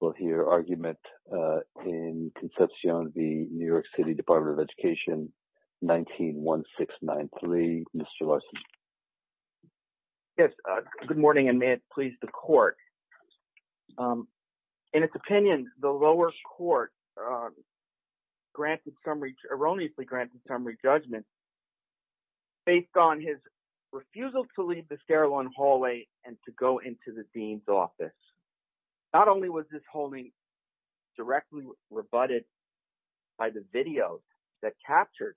will hear argument in Concepcion v. New York City Department of Education, 19-1693. Mr. Larson. Yes. Good morning, and may it please the court. In its opinion, the lower court erroneously granted summary judgment based on his refusal to leave the stairwell and hallway and to go into the dean's office. Not only was this holding directly rebutted by the video that captured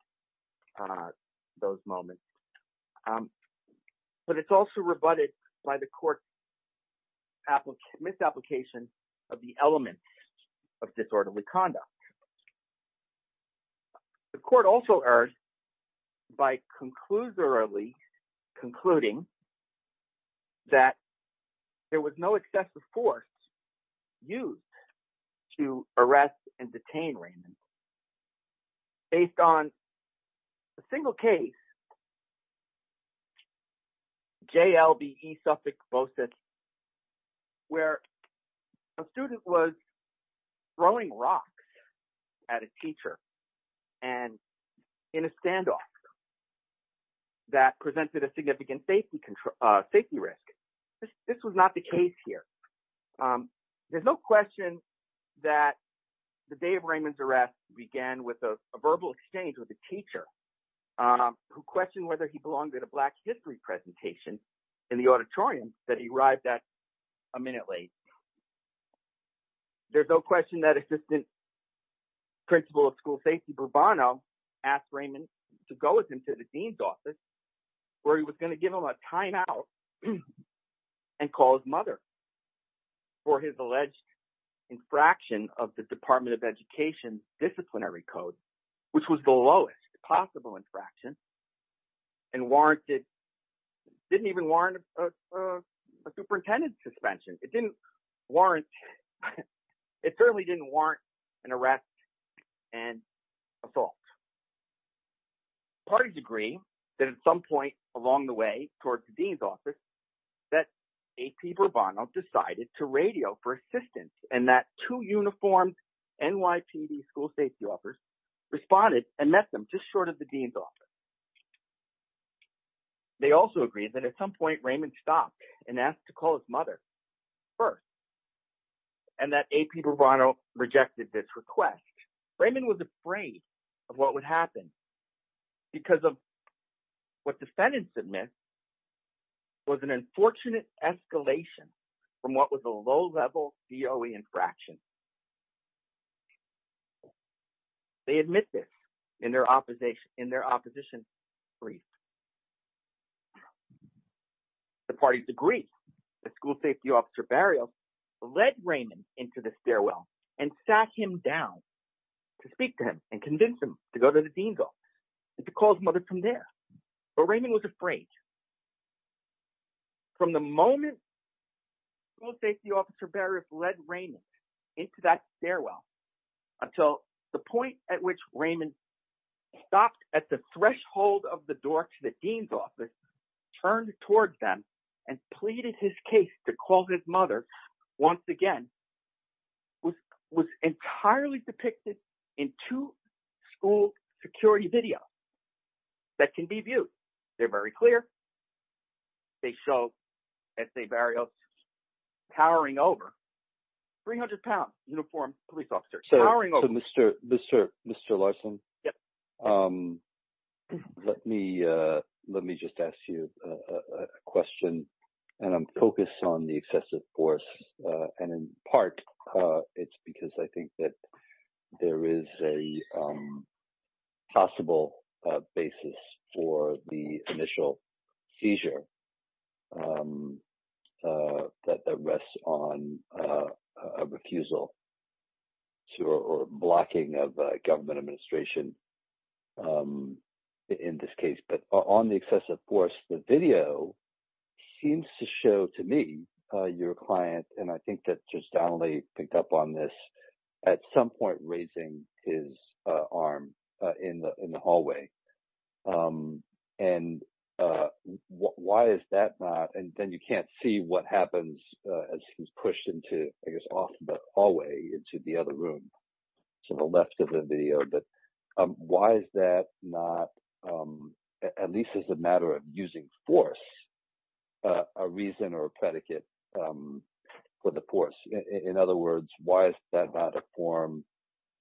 those moments, but it's also rebutted by the court's misapplication of the elements of disorderly conduct. The court also errs by conclusorily concluding that there was no excessive force used to arrest and detain Raymond based on a single case, JLBE-Suffolk-Bosset, where a student was throwing rocks at a teacher in a standoff that presented a significant safety risk. This was not the case here. There's no question that the day of Raymond's arrest began with a verbal exchange with a teacher who questioned whether he belonged at a Black History presentation in the auditorium that he arrived at a minute late. There's no question that Assistant Principal of School Safety Bourbon asked Raymond to go with him to the dean's office where he was going to give him a timeout and call his mother for his alleged infraction of the Department of Education's disciplinary code, which was the lowest possible infraction and didn't even warrant a superintendent's suspension. It certainly didn't warrant an arrest and assault. Parties agree that at some point along the way towards the dean's office that AP Bourbon decided to radio for assistance and that two uniformed NYPD school safety officers responded and met them just short of the dean's office. They also agree that at some point Raymond stopped and asked to call his mother first and that AP Bourbon rejected this request. Raymond was afraid of what would happen because of what defendants admit was an unfortunate escalation from what was a low-level DOE infraction. They admit this in their opposition brief. The parties agree the school safety officer burial led Raymond into the stairwell and sat him down to speak to him and convince him to go to the dean's office and to call his mother from there. Raymond was afraid. From the moment the school safety officer led Raymond into that stairwell until the point at which Raymond stopped at the threshold of the door to the dean's office, turned towards them and pleaded his case to call his mother once again, was entirely depicted in two school security videos that can be viewed. They're very clear. They show SA Burial powering over 300-pound uniformed police officers. Mr. Larson, let me just ask you a question. I'm focused on the excessive force. In part, it's because I think that there is a possible basis for the initial seizure that rests on a refusal or blocking of government administration in this case. On the excessive force, the video seems to show to me your client, and I think that Judge Donnelly picked up on this, at some point raising his arm in the hallway. And why is that not, and then you can't see what happens as he's pushed into, I guess, off the hallway into the other room to the left of the video, but why is that not, at least as a matter of using force, a reason or a predicate for the force? In other words, why is that not a form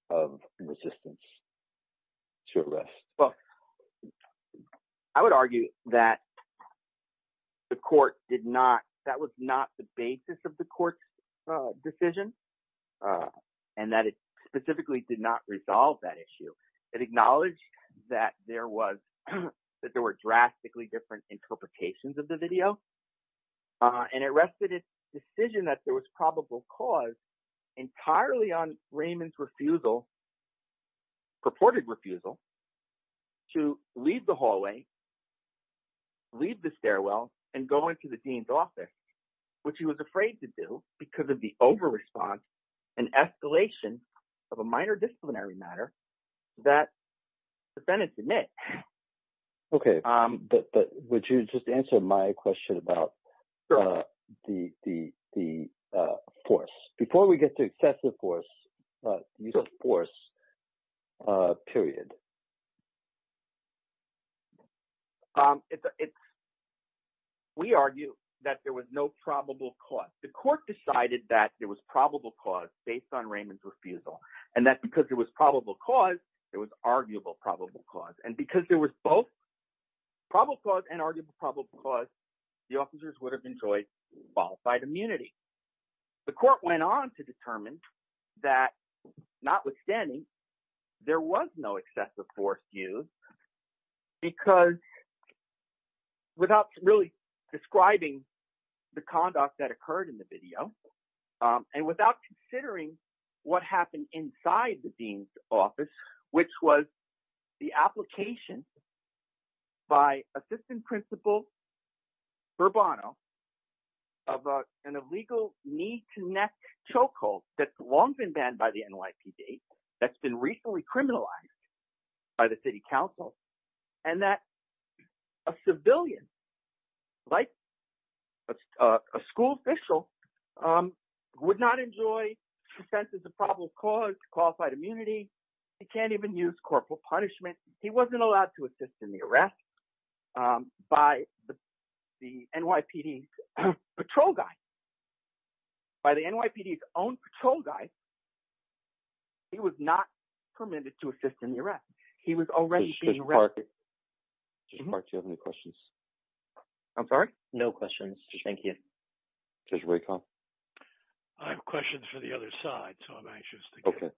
of resistance to arrest? Well, I would argue that that was not the basis of the court's decision, and that it specifically did not resolve that issue. It acknowledged that there were drastically different interpretations of the video, and it rested its decision that there was probable cause entirely on Raymond's refusal, purported refusal, to leave the hallway, leave the stairwell, and go into the Dean's office, which he was afraid to do because of the over-response and escalation of a minor disciplinary matter that the defendant admit. Okay, but would you just answer my question about the force? Before we get to excessive force, force, period. We argue that there was no probable cause. The court decided that there was probable cause based on Raymond's refusal, and that because there was probable cause, it was arguable probable cause, and because there was both probable cause and arguable probable cause, the officers would have enjoyed qualified immunity. The court went on to determine that, notwithstanding, there was no excessive force used, because without really describing the conduct that occurred in the video, and without considering what happened inside the courtroom, which was the application by assistant principal Bourbono of an illegal knee-to-neck chokehold that's long been banned by the NYPD, that's been recently criminalized by the city council, and that a civilian, like a school official, would not enjoy consensus of probable cause, qualified immunity. He can't even use corporal punishment. He wasn't allowed to assist in the arrest by the NYPD patrol guy. By the NYPD's own patrol guy, he was not permitted to assist in the arrest. He was already being arrested. Judge Park, do you have any questions? I'm sorry? No questions. Thank you. Judge Raycom? I have questions for the other side, so I'm anxious to go. Okay.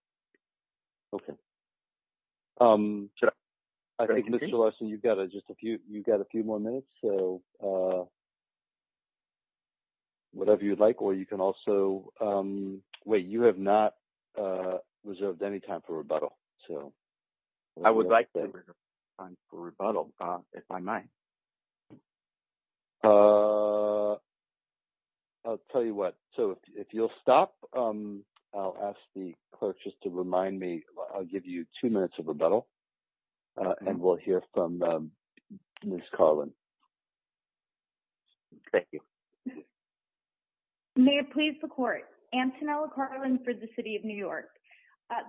I think, Mr. Larson, you've got a few more minutes, so whatever you'd like, or you can also, wait, you have not reserved any time for rebuttal. I would like to reserve time for rebuttal, if I may. I'll tell you what. So, if you'll stop, I'll ask the clerk just to remind me, I'll give you two minutes of rebuttal, and we'll hear from Ms. Carlin. Thank you. May it please the court. Antonella Carlin for the City of New York.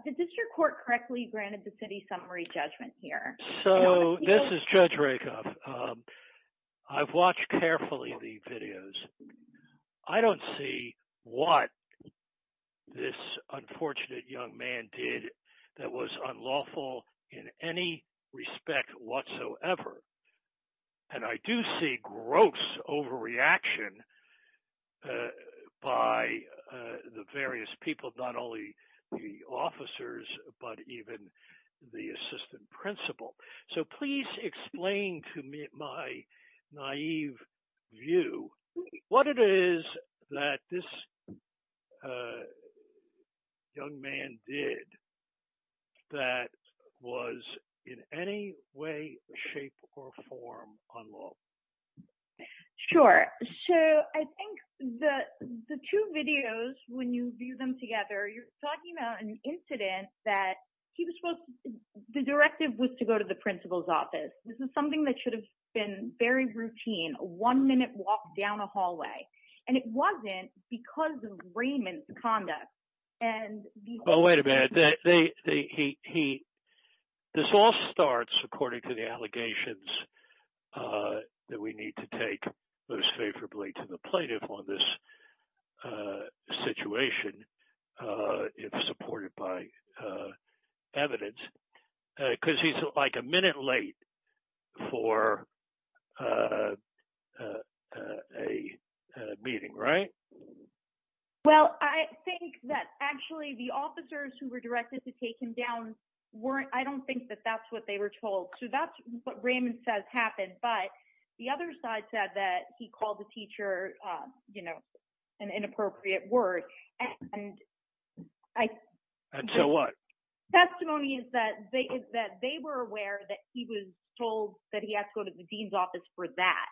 Did the district court correctly granted the city summary judgment here? So, this is Judge Raycom. I've watched carefully the videos. I don't see what this unfortunate young man did that was unlawful in any respect whatsoever. And I do see gross overreaction by the various people, not only the officers, but even the principal. So, please explain to my naive view what it is that this young man did that was in any way, shape, or form unlawful. Sure. So, I think the two videos, when you view them together, you're talking about an incident that he was supposed to, the directive was to go to the principal's office. This is something that should have been very routine, a one-minute walk down a hallway. And it wasn't because of Raymond's conduct. Oh, wait a minute. This all starts according to the allegations that we need to evidence, because he's like a minute late for a meeting, right? Well, I think that actually the officers who were directed to take him down, I don't think that that's what they were told. So, that's what Raymond says happened. But the other side said that he called the teacher, you know, an inappropriate word. And so what? Testimony is that they were aware that he was told that he has to go to the dean's office for that.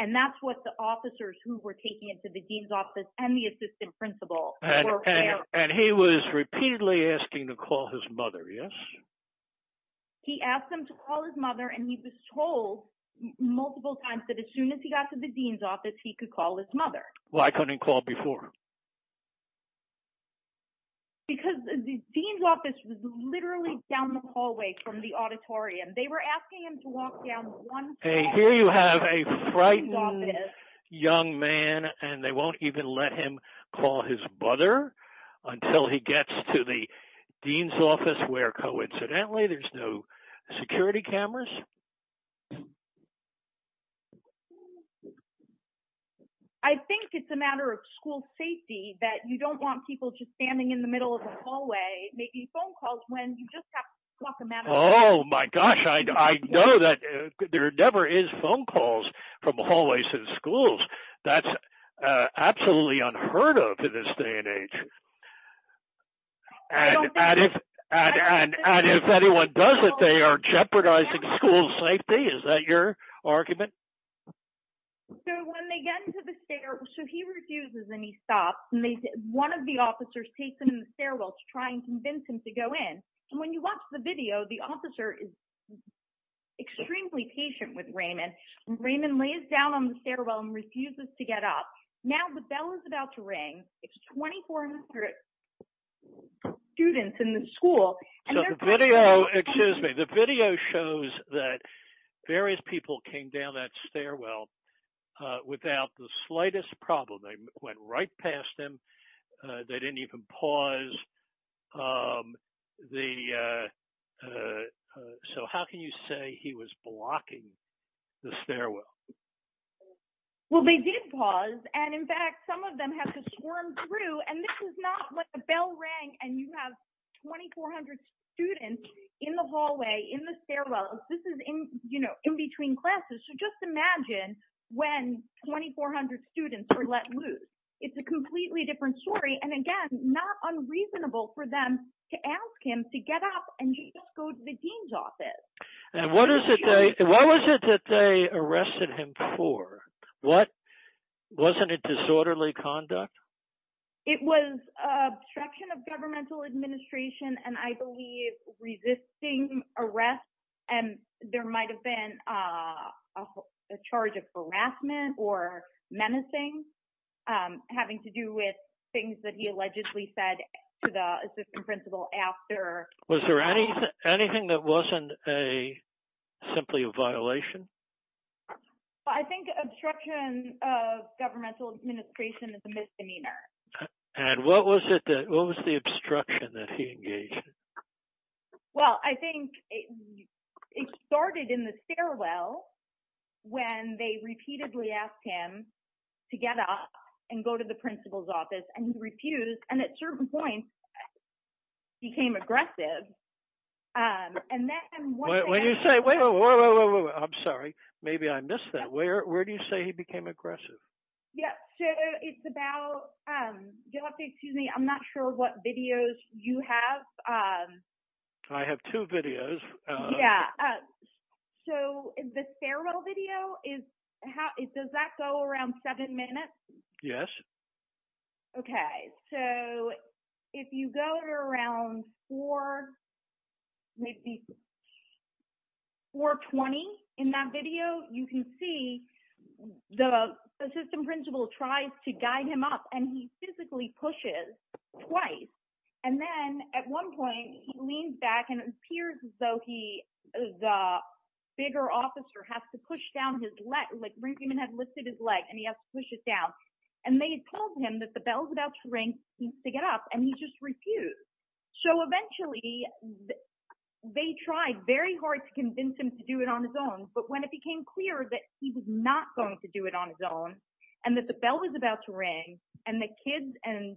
And that's what the officers who were taking him to the dean's office and the assistant principal were aware of. And he was repeatedly asking to call his mother, yes? He asked him to call his mother. And he was told multiple times that as soon as he got to the dean's office, he could call his mother. Why couldn't he call before? Because the dean's office was literally down the hallway from the auditorium. They were asking him to walk down one step. Hey, here you have a frightening young man, and they won't even let him call his mother until he gets to the dean's office, where coincidentally, there's no security cameras. I think it's a matter of school safety that you don't want people just standing in the middle of the hallway making phone calls when you just have to talk to them. Oh, my gosh. I know that there never is phone calls from hallways in schools. That's absolutely unheard of in this day and age. And if anyone does it, they are jeopardizing school safety. Is that your argument? So when they get into the stairwell, he refuses and he stops. One of the officers takes him in the stairwell to try and convince him to go in. And when you watch the video, the officer is extremely patient with Raymond. Raymond lays down on the stairwell and refuses to get up. Now the bell is about to ring. It's 2,400 students in the school. Excuse me. The video shows that various people came down that stairwell without the slightest problem. They went right past him. They didn't even pause. So how can you say he was blocking the stairwell? Well, they did pause. And in fact, some of them had to swarm through. And this is not when the bell rang and you have 2,400 students in the hallway, in the stairwell. This is in between classes. So just imagine when 2,400 students are let loose. It's a completely different story. And again, not unreasonable for them to ask him to get up and just go to the dean's office. And what was it that they arrested him for? Wasn't it disorderly conduct? It was obstruction of governmental administration and I believe resisting arrest. And there might have been a charge of harassment or menacing having to do with things that he allegedly said to the assistant principal after. Was there anything that wasn't simply a violation? I think obstruction of governmental administration is a misdemeanor. And what was the obstruction that he engaged? Well, I think it started in the stairwell when they repeatedly asked him to get up and go to the principal's office and he refused. And at certain points, he became aggressive. And then when you say, wait, I'm sorry, maybe I missed that. Where do you say he became aggressive? Yeah. So it's about, excuse me, I'm not sure what videos you have. I have two videos. Yeah. So the stairwell video, does that go around seven minutes? Yes. Okay. So if you go to around four, maybe 420 in that video, you can see the assistant principal tries to guide him up and he physically pushes twice. And then at one point he leans back and it appears as though the bigger officer has to push down his leg, like Ringman had lifted his leg and he has to push it down. And they told him that the bell's about to ring, he needs to get up and he just refused. So eventually they tried very hard to convince him to do it on his own. But when it became clear that he was not going to do it on his own and that the bell was about to ring and the kids and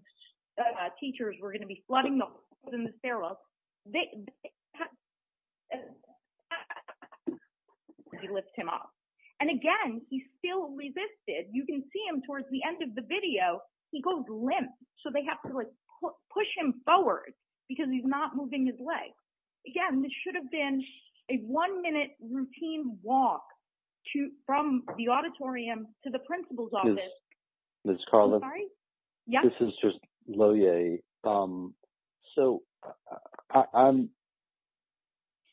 And again, he still resisted. You can see him towards the end of the video, he goes limp. So they have to push him forward because he's not moving his legs. Again, this should have been a one minute routine walk from the auditorium to the principal's office. Ms. Carlin? Sorry? Yeah. This is just Lohier. So I'm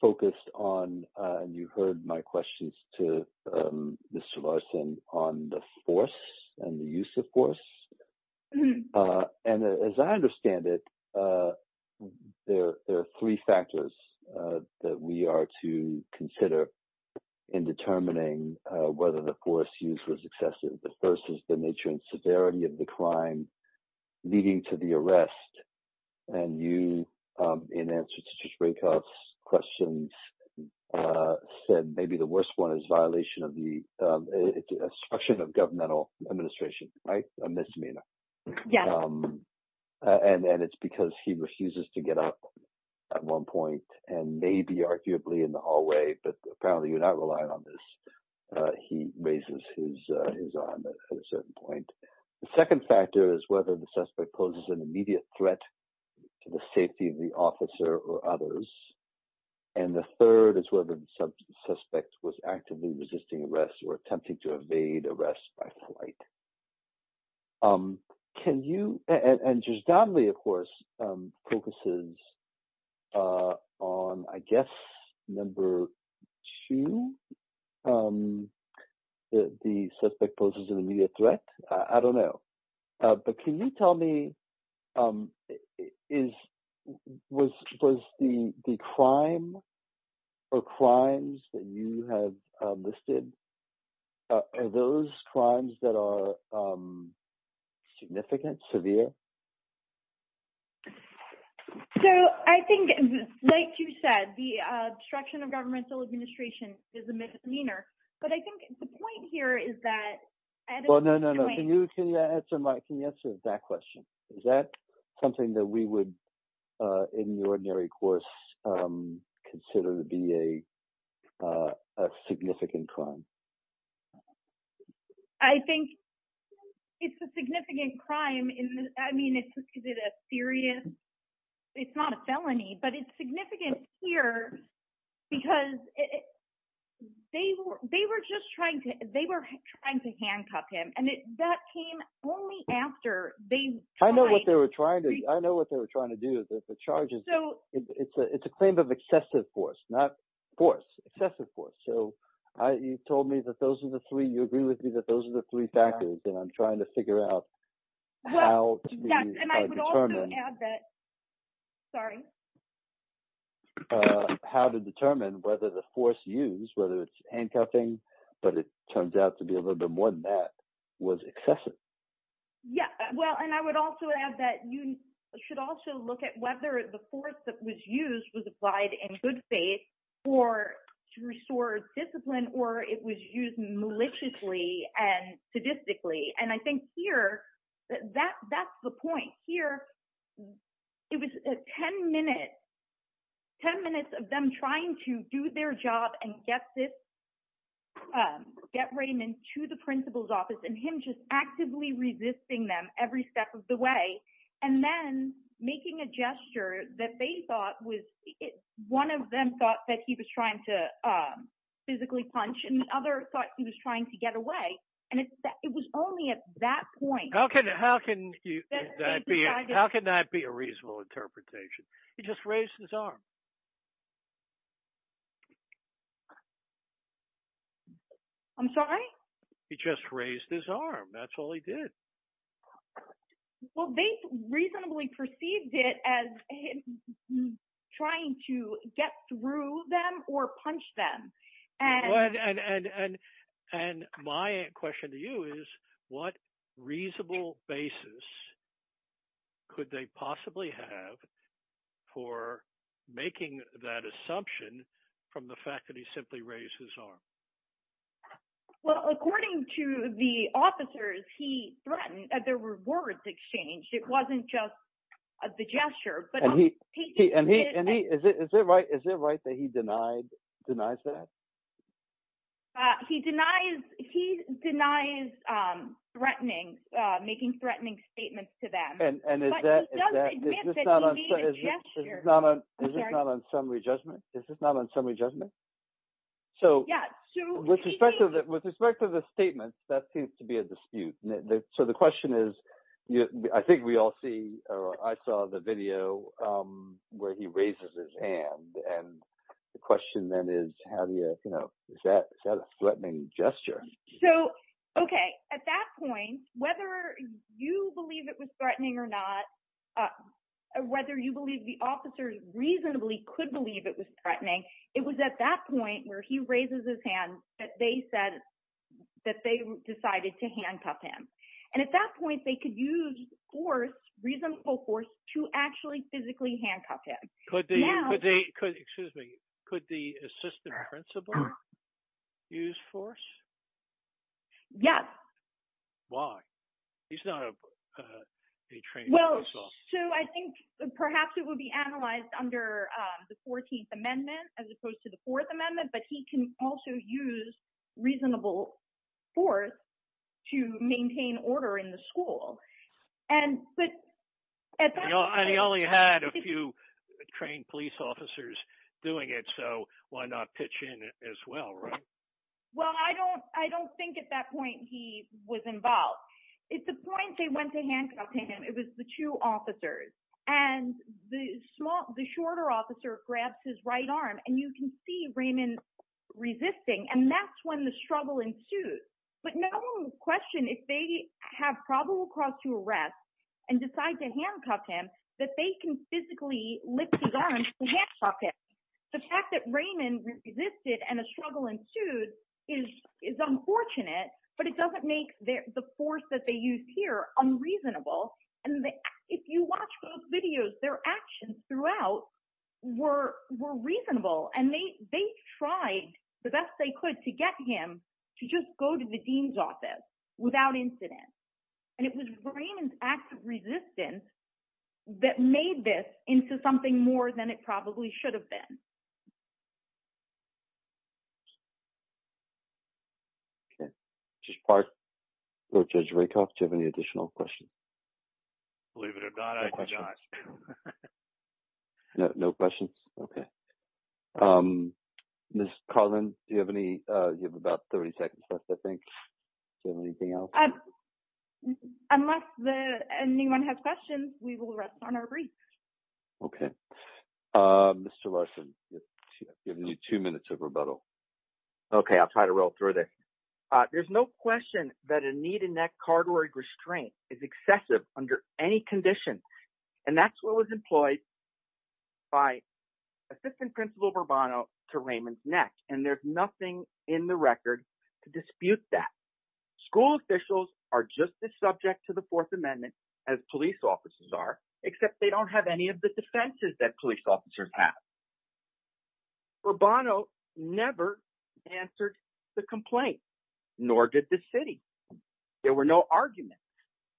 focused on, and you heard my questions to Mr. Larson on the force and the use of force. And as I understand it, there are three factors that we are to consider in determining whether the force use was excessive. The first is the nature and severity of the crime leading to the arrest. And you, in answer to his breakups questions, said maybe the worst one is violation of the obstruction of governmental administration, right? A misdemeanor. And it's because he refuses to get up at one point and maybe arguably in the hallway, but apparently you're not relying on this. He raises his arm at a certain point. The second factor is whether the suspect poses an immediate threat to the safety of the officer or others. And the third is whether the suspect was actively resisting arrest or attempting to evade arrest by flight. And Judge Donnelly, of course, focuses on, I guess, number two, the suspect poses an immediate threat. I don't know. But can you tell me was the crime or crimes that you have listed, are those crimes that are significant, severe? So I think, like you said, the obstruction of governmental administration is a misdemeanor. But I think the point here is that... Well, no, no, no. Can you answer that question? Is that something that we would, in the ordinary course, consider to be a significant crime? I think it's a significant crime. I mean, it's not a felony, but it's significant here because they were just trying to handcuff him. And that came only after they... I know what they were trying to do. It's a claim of excessive force, not force, excessive force. So you told me that those are the three. You agree with me that those are the three factors that I'm talking about. Sorry. How to determine whether the force used, whether it's handcuffing, but it turns out to be a little bit more than that, was excessive. Yeah. Well, and I would also add that you should also look at whether the force that was used was applied in good faith or to restore discipline, or it was used maliciously and sadistically. And I think here, that's the point. Here, it was 10 minutes of them trying to do their job and get Raymond to the principal's office and him just actively resisting them every step of the way. And then making a gesture that they thought was... One of them thought that he was trying to that point. How can that be a reasonable interpretation? He just raised his arm. I'm sorry? He just raised his arm. That's all he did. Well, they reasonably perceived it as him trying to get through them or punch them. And my question to you is, what reasonable basis could they possibly have for making that assumption from the fact that he simply raised his arm? Well, according to the officers, he threatened that there were words exchanged. It wasn't just the gesture. Is it right that he denies that? He denies threatening, making threatening statements to them. But he does admit that he made a gesture. Is this not on summary judgment? With respect to the statements, that seems to be a dispute. So the question is, I think we all see, or I saw the video where he raises his hand. And the question then is, how do you... Is that a threatening gesture? So, okay. At that point, whether you believe it was threatening or not, whether you believe the officers reasonably could believe it was threatening, it was at that point where he raises his hand that they decided to handcuff him. And at that point, they could use force, reasonable force, to actually physically handcuff him. Excuse me. Could the assistant principal use force? Yes. Why? He's not a trained officer. So I think perhaps it would be analyzed under the 14th Amendment as opposed to the 4th Amendment, but he can also use reasonable force to maintain order in the school. And he only had a few trained police officers doing it, so why not pitch in as well, right? Well, I don't think at that point he was involved. At the point they went to handcuff him, it was the two officers. And the shorter officer grabs his right arm, and you can see Raymond resisting, and that's when the struggle ensued. But no one would question if they have probable cause to arrest and decide to handcuff him, that they can physically lift his arm to handcuff him. The fact that Raymond resisted and a struggle ensued is unfortunate, but it doesn't make the force that they use here unreasonable. And if you watch those videos, their actions throughout were reasonable, and they tried the best they could to get him to just go to the dean's office without incident. And it was Raymond's act of resistance that made this into something more than it probably should have been. Okay. Judge Rakoff, do you have any additional questions? Believe it or not, I do not. No questions? Okay. Ms. Carlin, you have about 30 seconds left, I think. Do you have anything else? Unless anyone has questions, we will rest on our breath. Okay. Mr. Larson, you have two minutes of rebuttal. Okay. I'll try to roll through this. There's no question that a knee-to-neck cardioid restraint is excessive under any condition. And that's what was employed by Assistant Principal Bourbon to Raymond's neck, and there's nothing in the record to dispute that. School officials are just as subject to the Fourth Amendment as police officers are, except they don't have any of the defenses that police officers have. Bourbon never answered the complaint, nor did the city. There were no arguments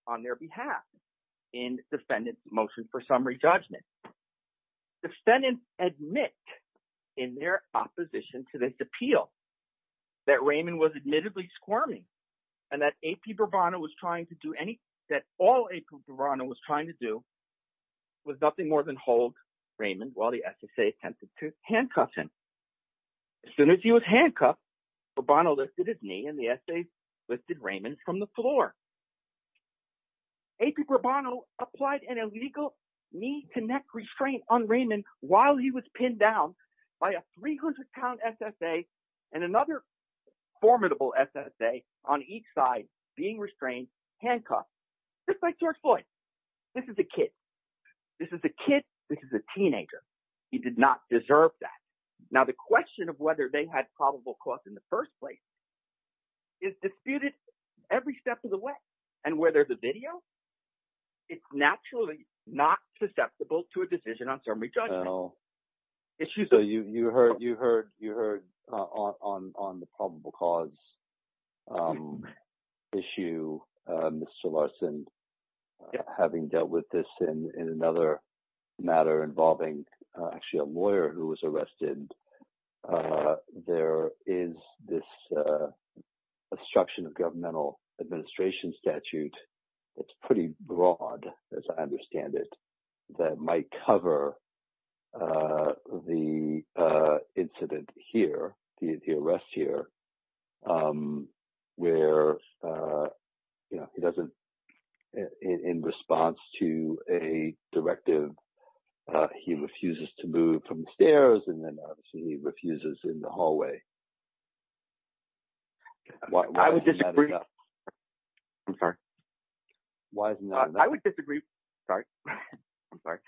on their behalf in defendants' motion for summary judgment. Defendants admit in their opposition to this appeal that Raymond was admittedly squirming, and that AP Bourbon was trying to do anything that all AP Bourbon was trying to do was nothing more than hold Raymond while the SSA attempted to handcuff him. As soon as he was handcuffed, Bourbon lifted his knee, and the SSA lifted Raymond from the floor. AP Bourbon applied an illegal knee-to-neck restraint on Raymond while he was pinned down by a 300-pound SSA and another formidable SSA on each side being handcuffed, just like George Floyd. This is a kid. This is a kid. This is a teenager. He did not deserve that. Now, the question of whether they had probable cause in the first place is disputed every step of the way, and whether the video is naturally not susceptible to a misdemeanor. Mr. Larson, having dealt with this in another matter involving actually a lawyer who was arrested, there is this obstruction of governmental administration statute that's pretty broad, as I understand it, that might cover the incident here, the arrest here, where he doesn't, in response to a directive, he refuses to move from the stairs, and then obviously he refuses in the hallway. I would disagree. I'm sorry. I would disagree. Sorry. I'm sorry.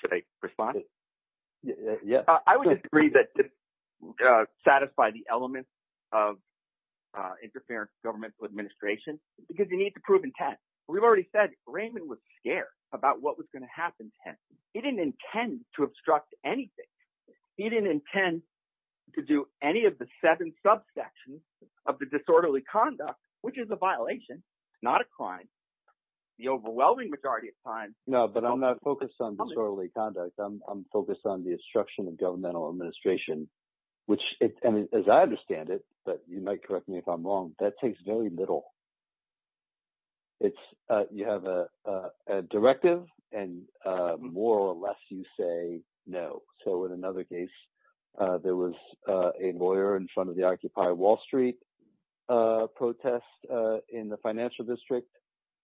Should I respond? Yeah. I would agree that this satisfied the elements of interference in governmental administration because you need to prove intent. We've already said Raymond was scared about what was going to happen to him. He didn't intend to obstruct anything. He didn't intend to do any of the seven subsections of the disorderly conduct, which is a violation, not a crime. The overwhelming majority of times... No, but I'm not focused on disorderly conduct. I'm focused on the obstruction of governmental administration, which, and as I understand it, but you might correct me if I'm wrong, that takes very little. You have a directive, and more or less you say no. So, in another case, there was a lawyer in front of the Occupy Wall Street protest in the financial district.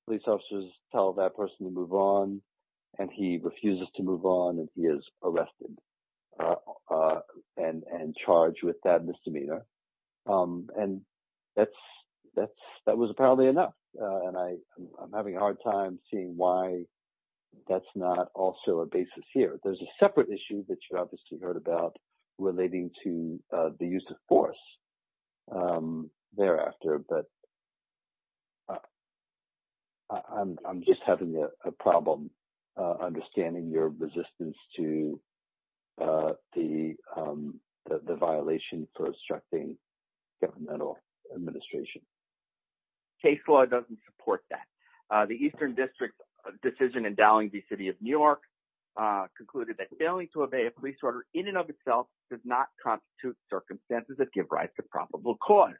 Police officers tell that person to move on, and he refuses to move on, and he is arrested and charged with that misdemeanor. That was apparently enough. I'm having a hard time seeing why that's not also a basis here. There's a separate issue that you obviously heard about relating to the use of force thereafter, but I'm just having a problem understanding your resistance to the violation for obstructing governmental administration. Case law doesn't support that. The Eastern District's decision endowing the City of New York concluded that failing to obey a police order in and of itself does not constitute circumstances that give rise to probable cause.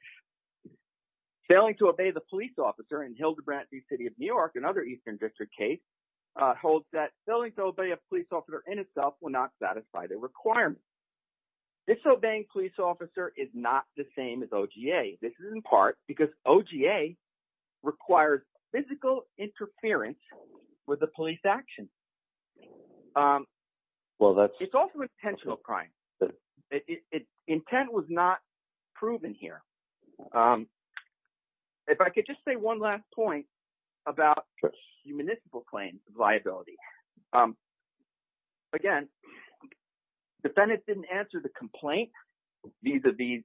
Failing to obey the police officer in Hilderbrant v. City of New York, another Eastern District case, holds that failing to obey a police officer in itself will not satisfy the requirement. Disobeying police officer is not the same as OGA. This is in part because OGA requires physical interference with the police action. It's also intentional crime. Intent was not proven here. If I could just say one last point about municipal claims of liability. Again, defendants didn't answer the complaint vis-à-vis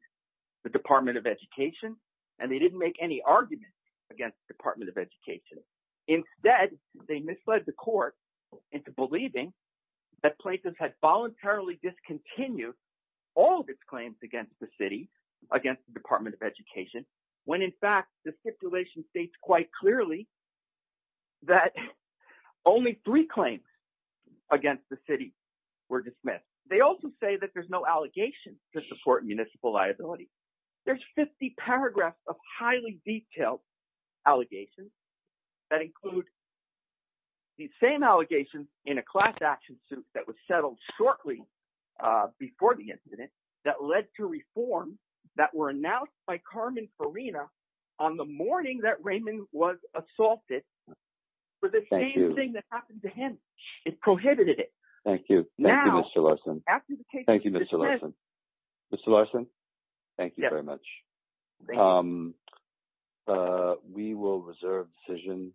the Department of Education, and they didn't make any argument against the Department of Education. Instead, they misled the court into believing that plaintiffs had voluntarily discontinued all of its claims against the city, against the Department of Education, when in fact the stipulation states quite clearly that only three claims against the city were dismissed. They also say that there's no allegations to support municipal liability. There's 50 paragraphs of highly detailed allegations that include the same allegations in a class action suit that was settled shortly before the incident that led to reforms that were announced by Carmen Farina on the morning that Raymond was assaulted for the same thing that happened to him. It prohibited it. Thank you. Thank you, Mr. Larson. Thank you very much. We will reserve decision,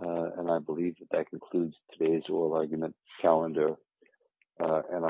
and I believe that that concludes today's oral argument calendar.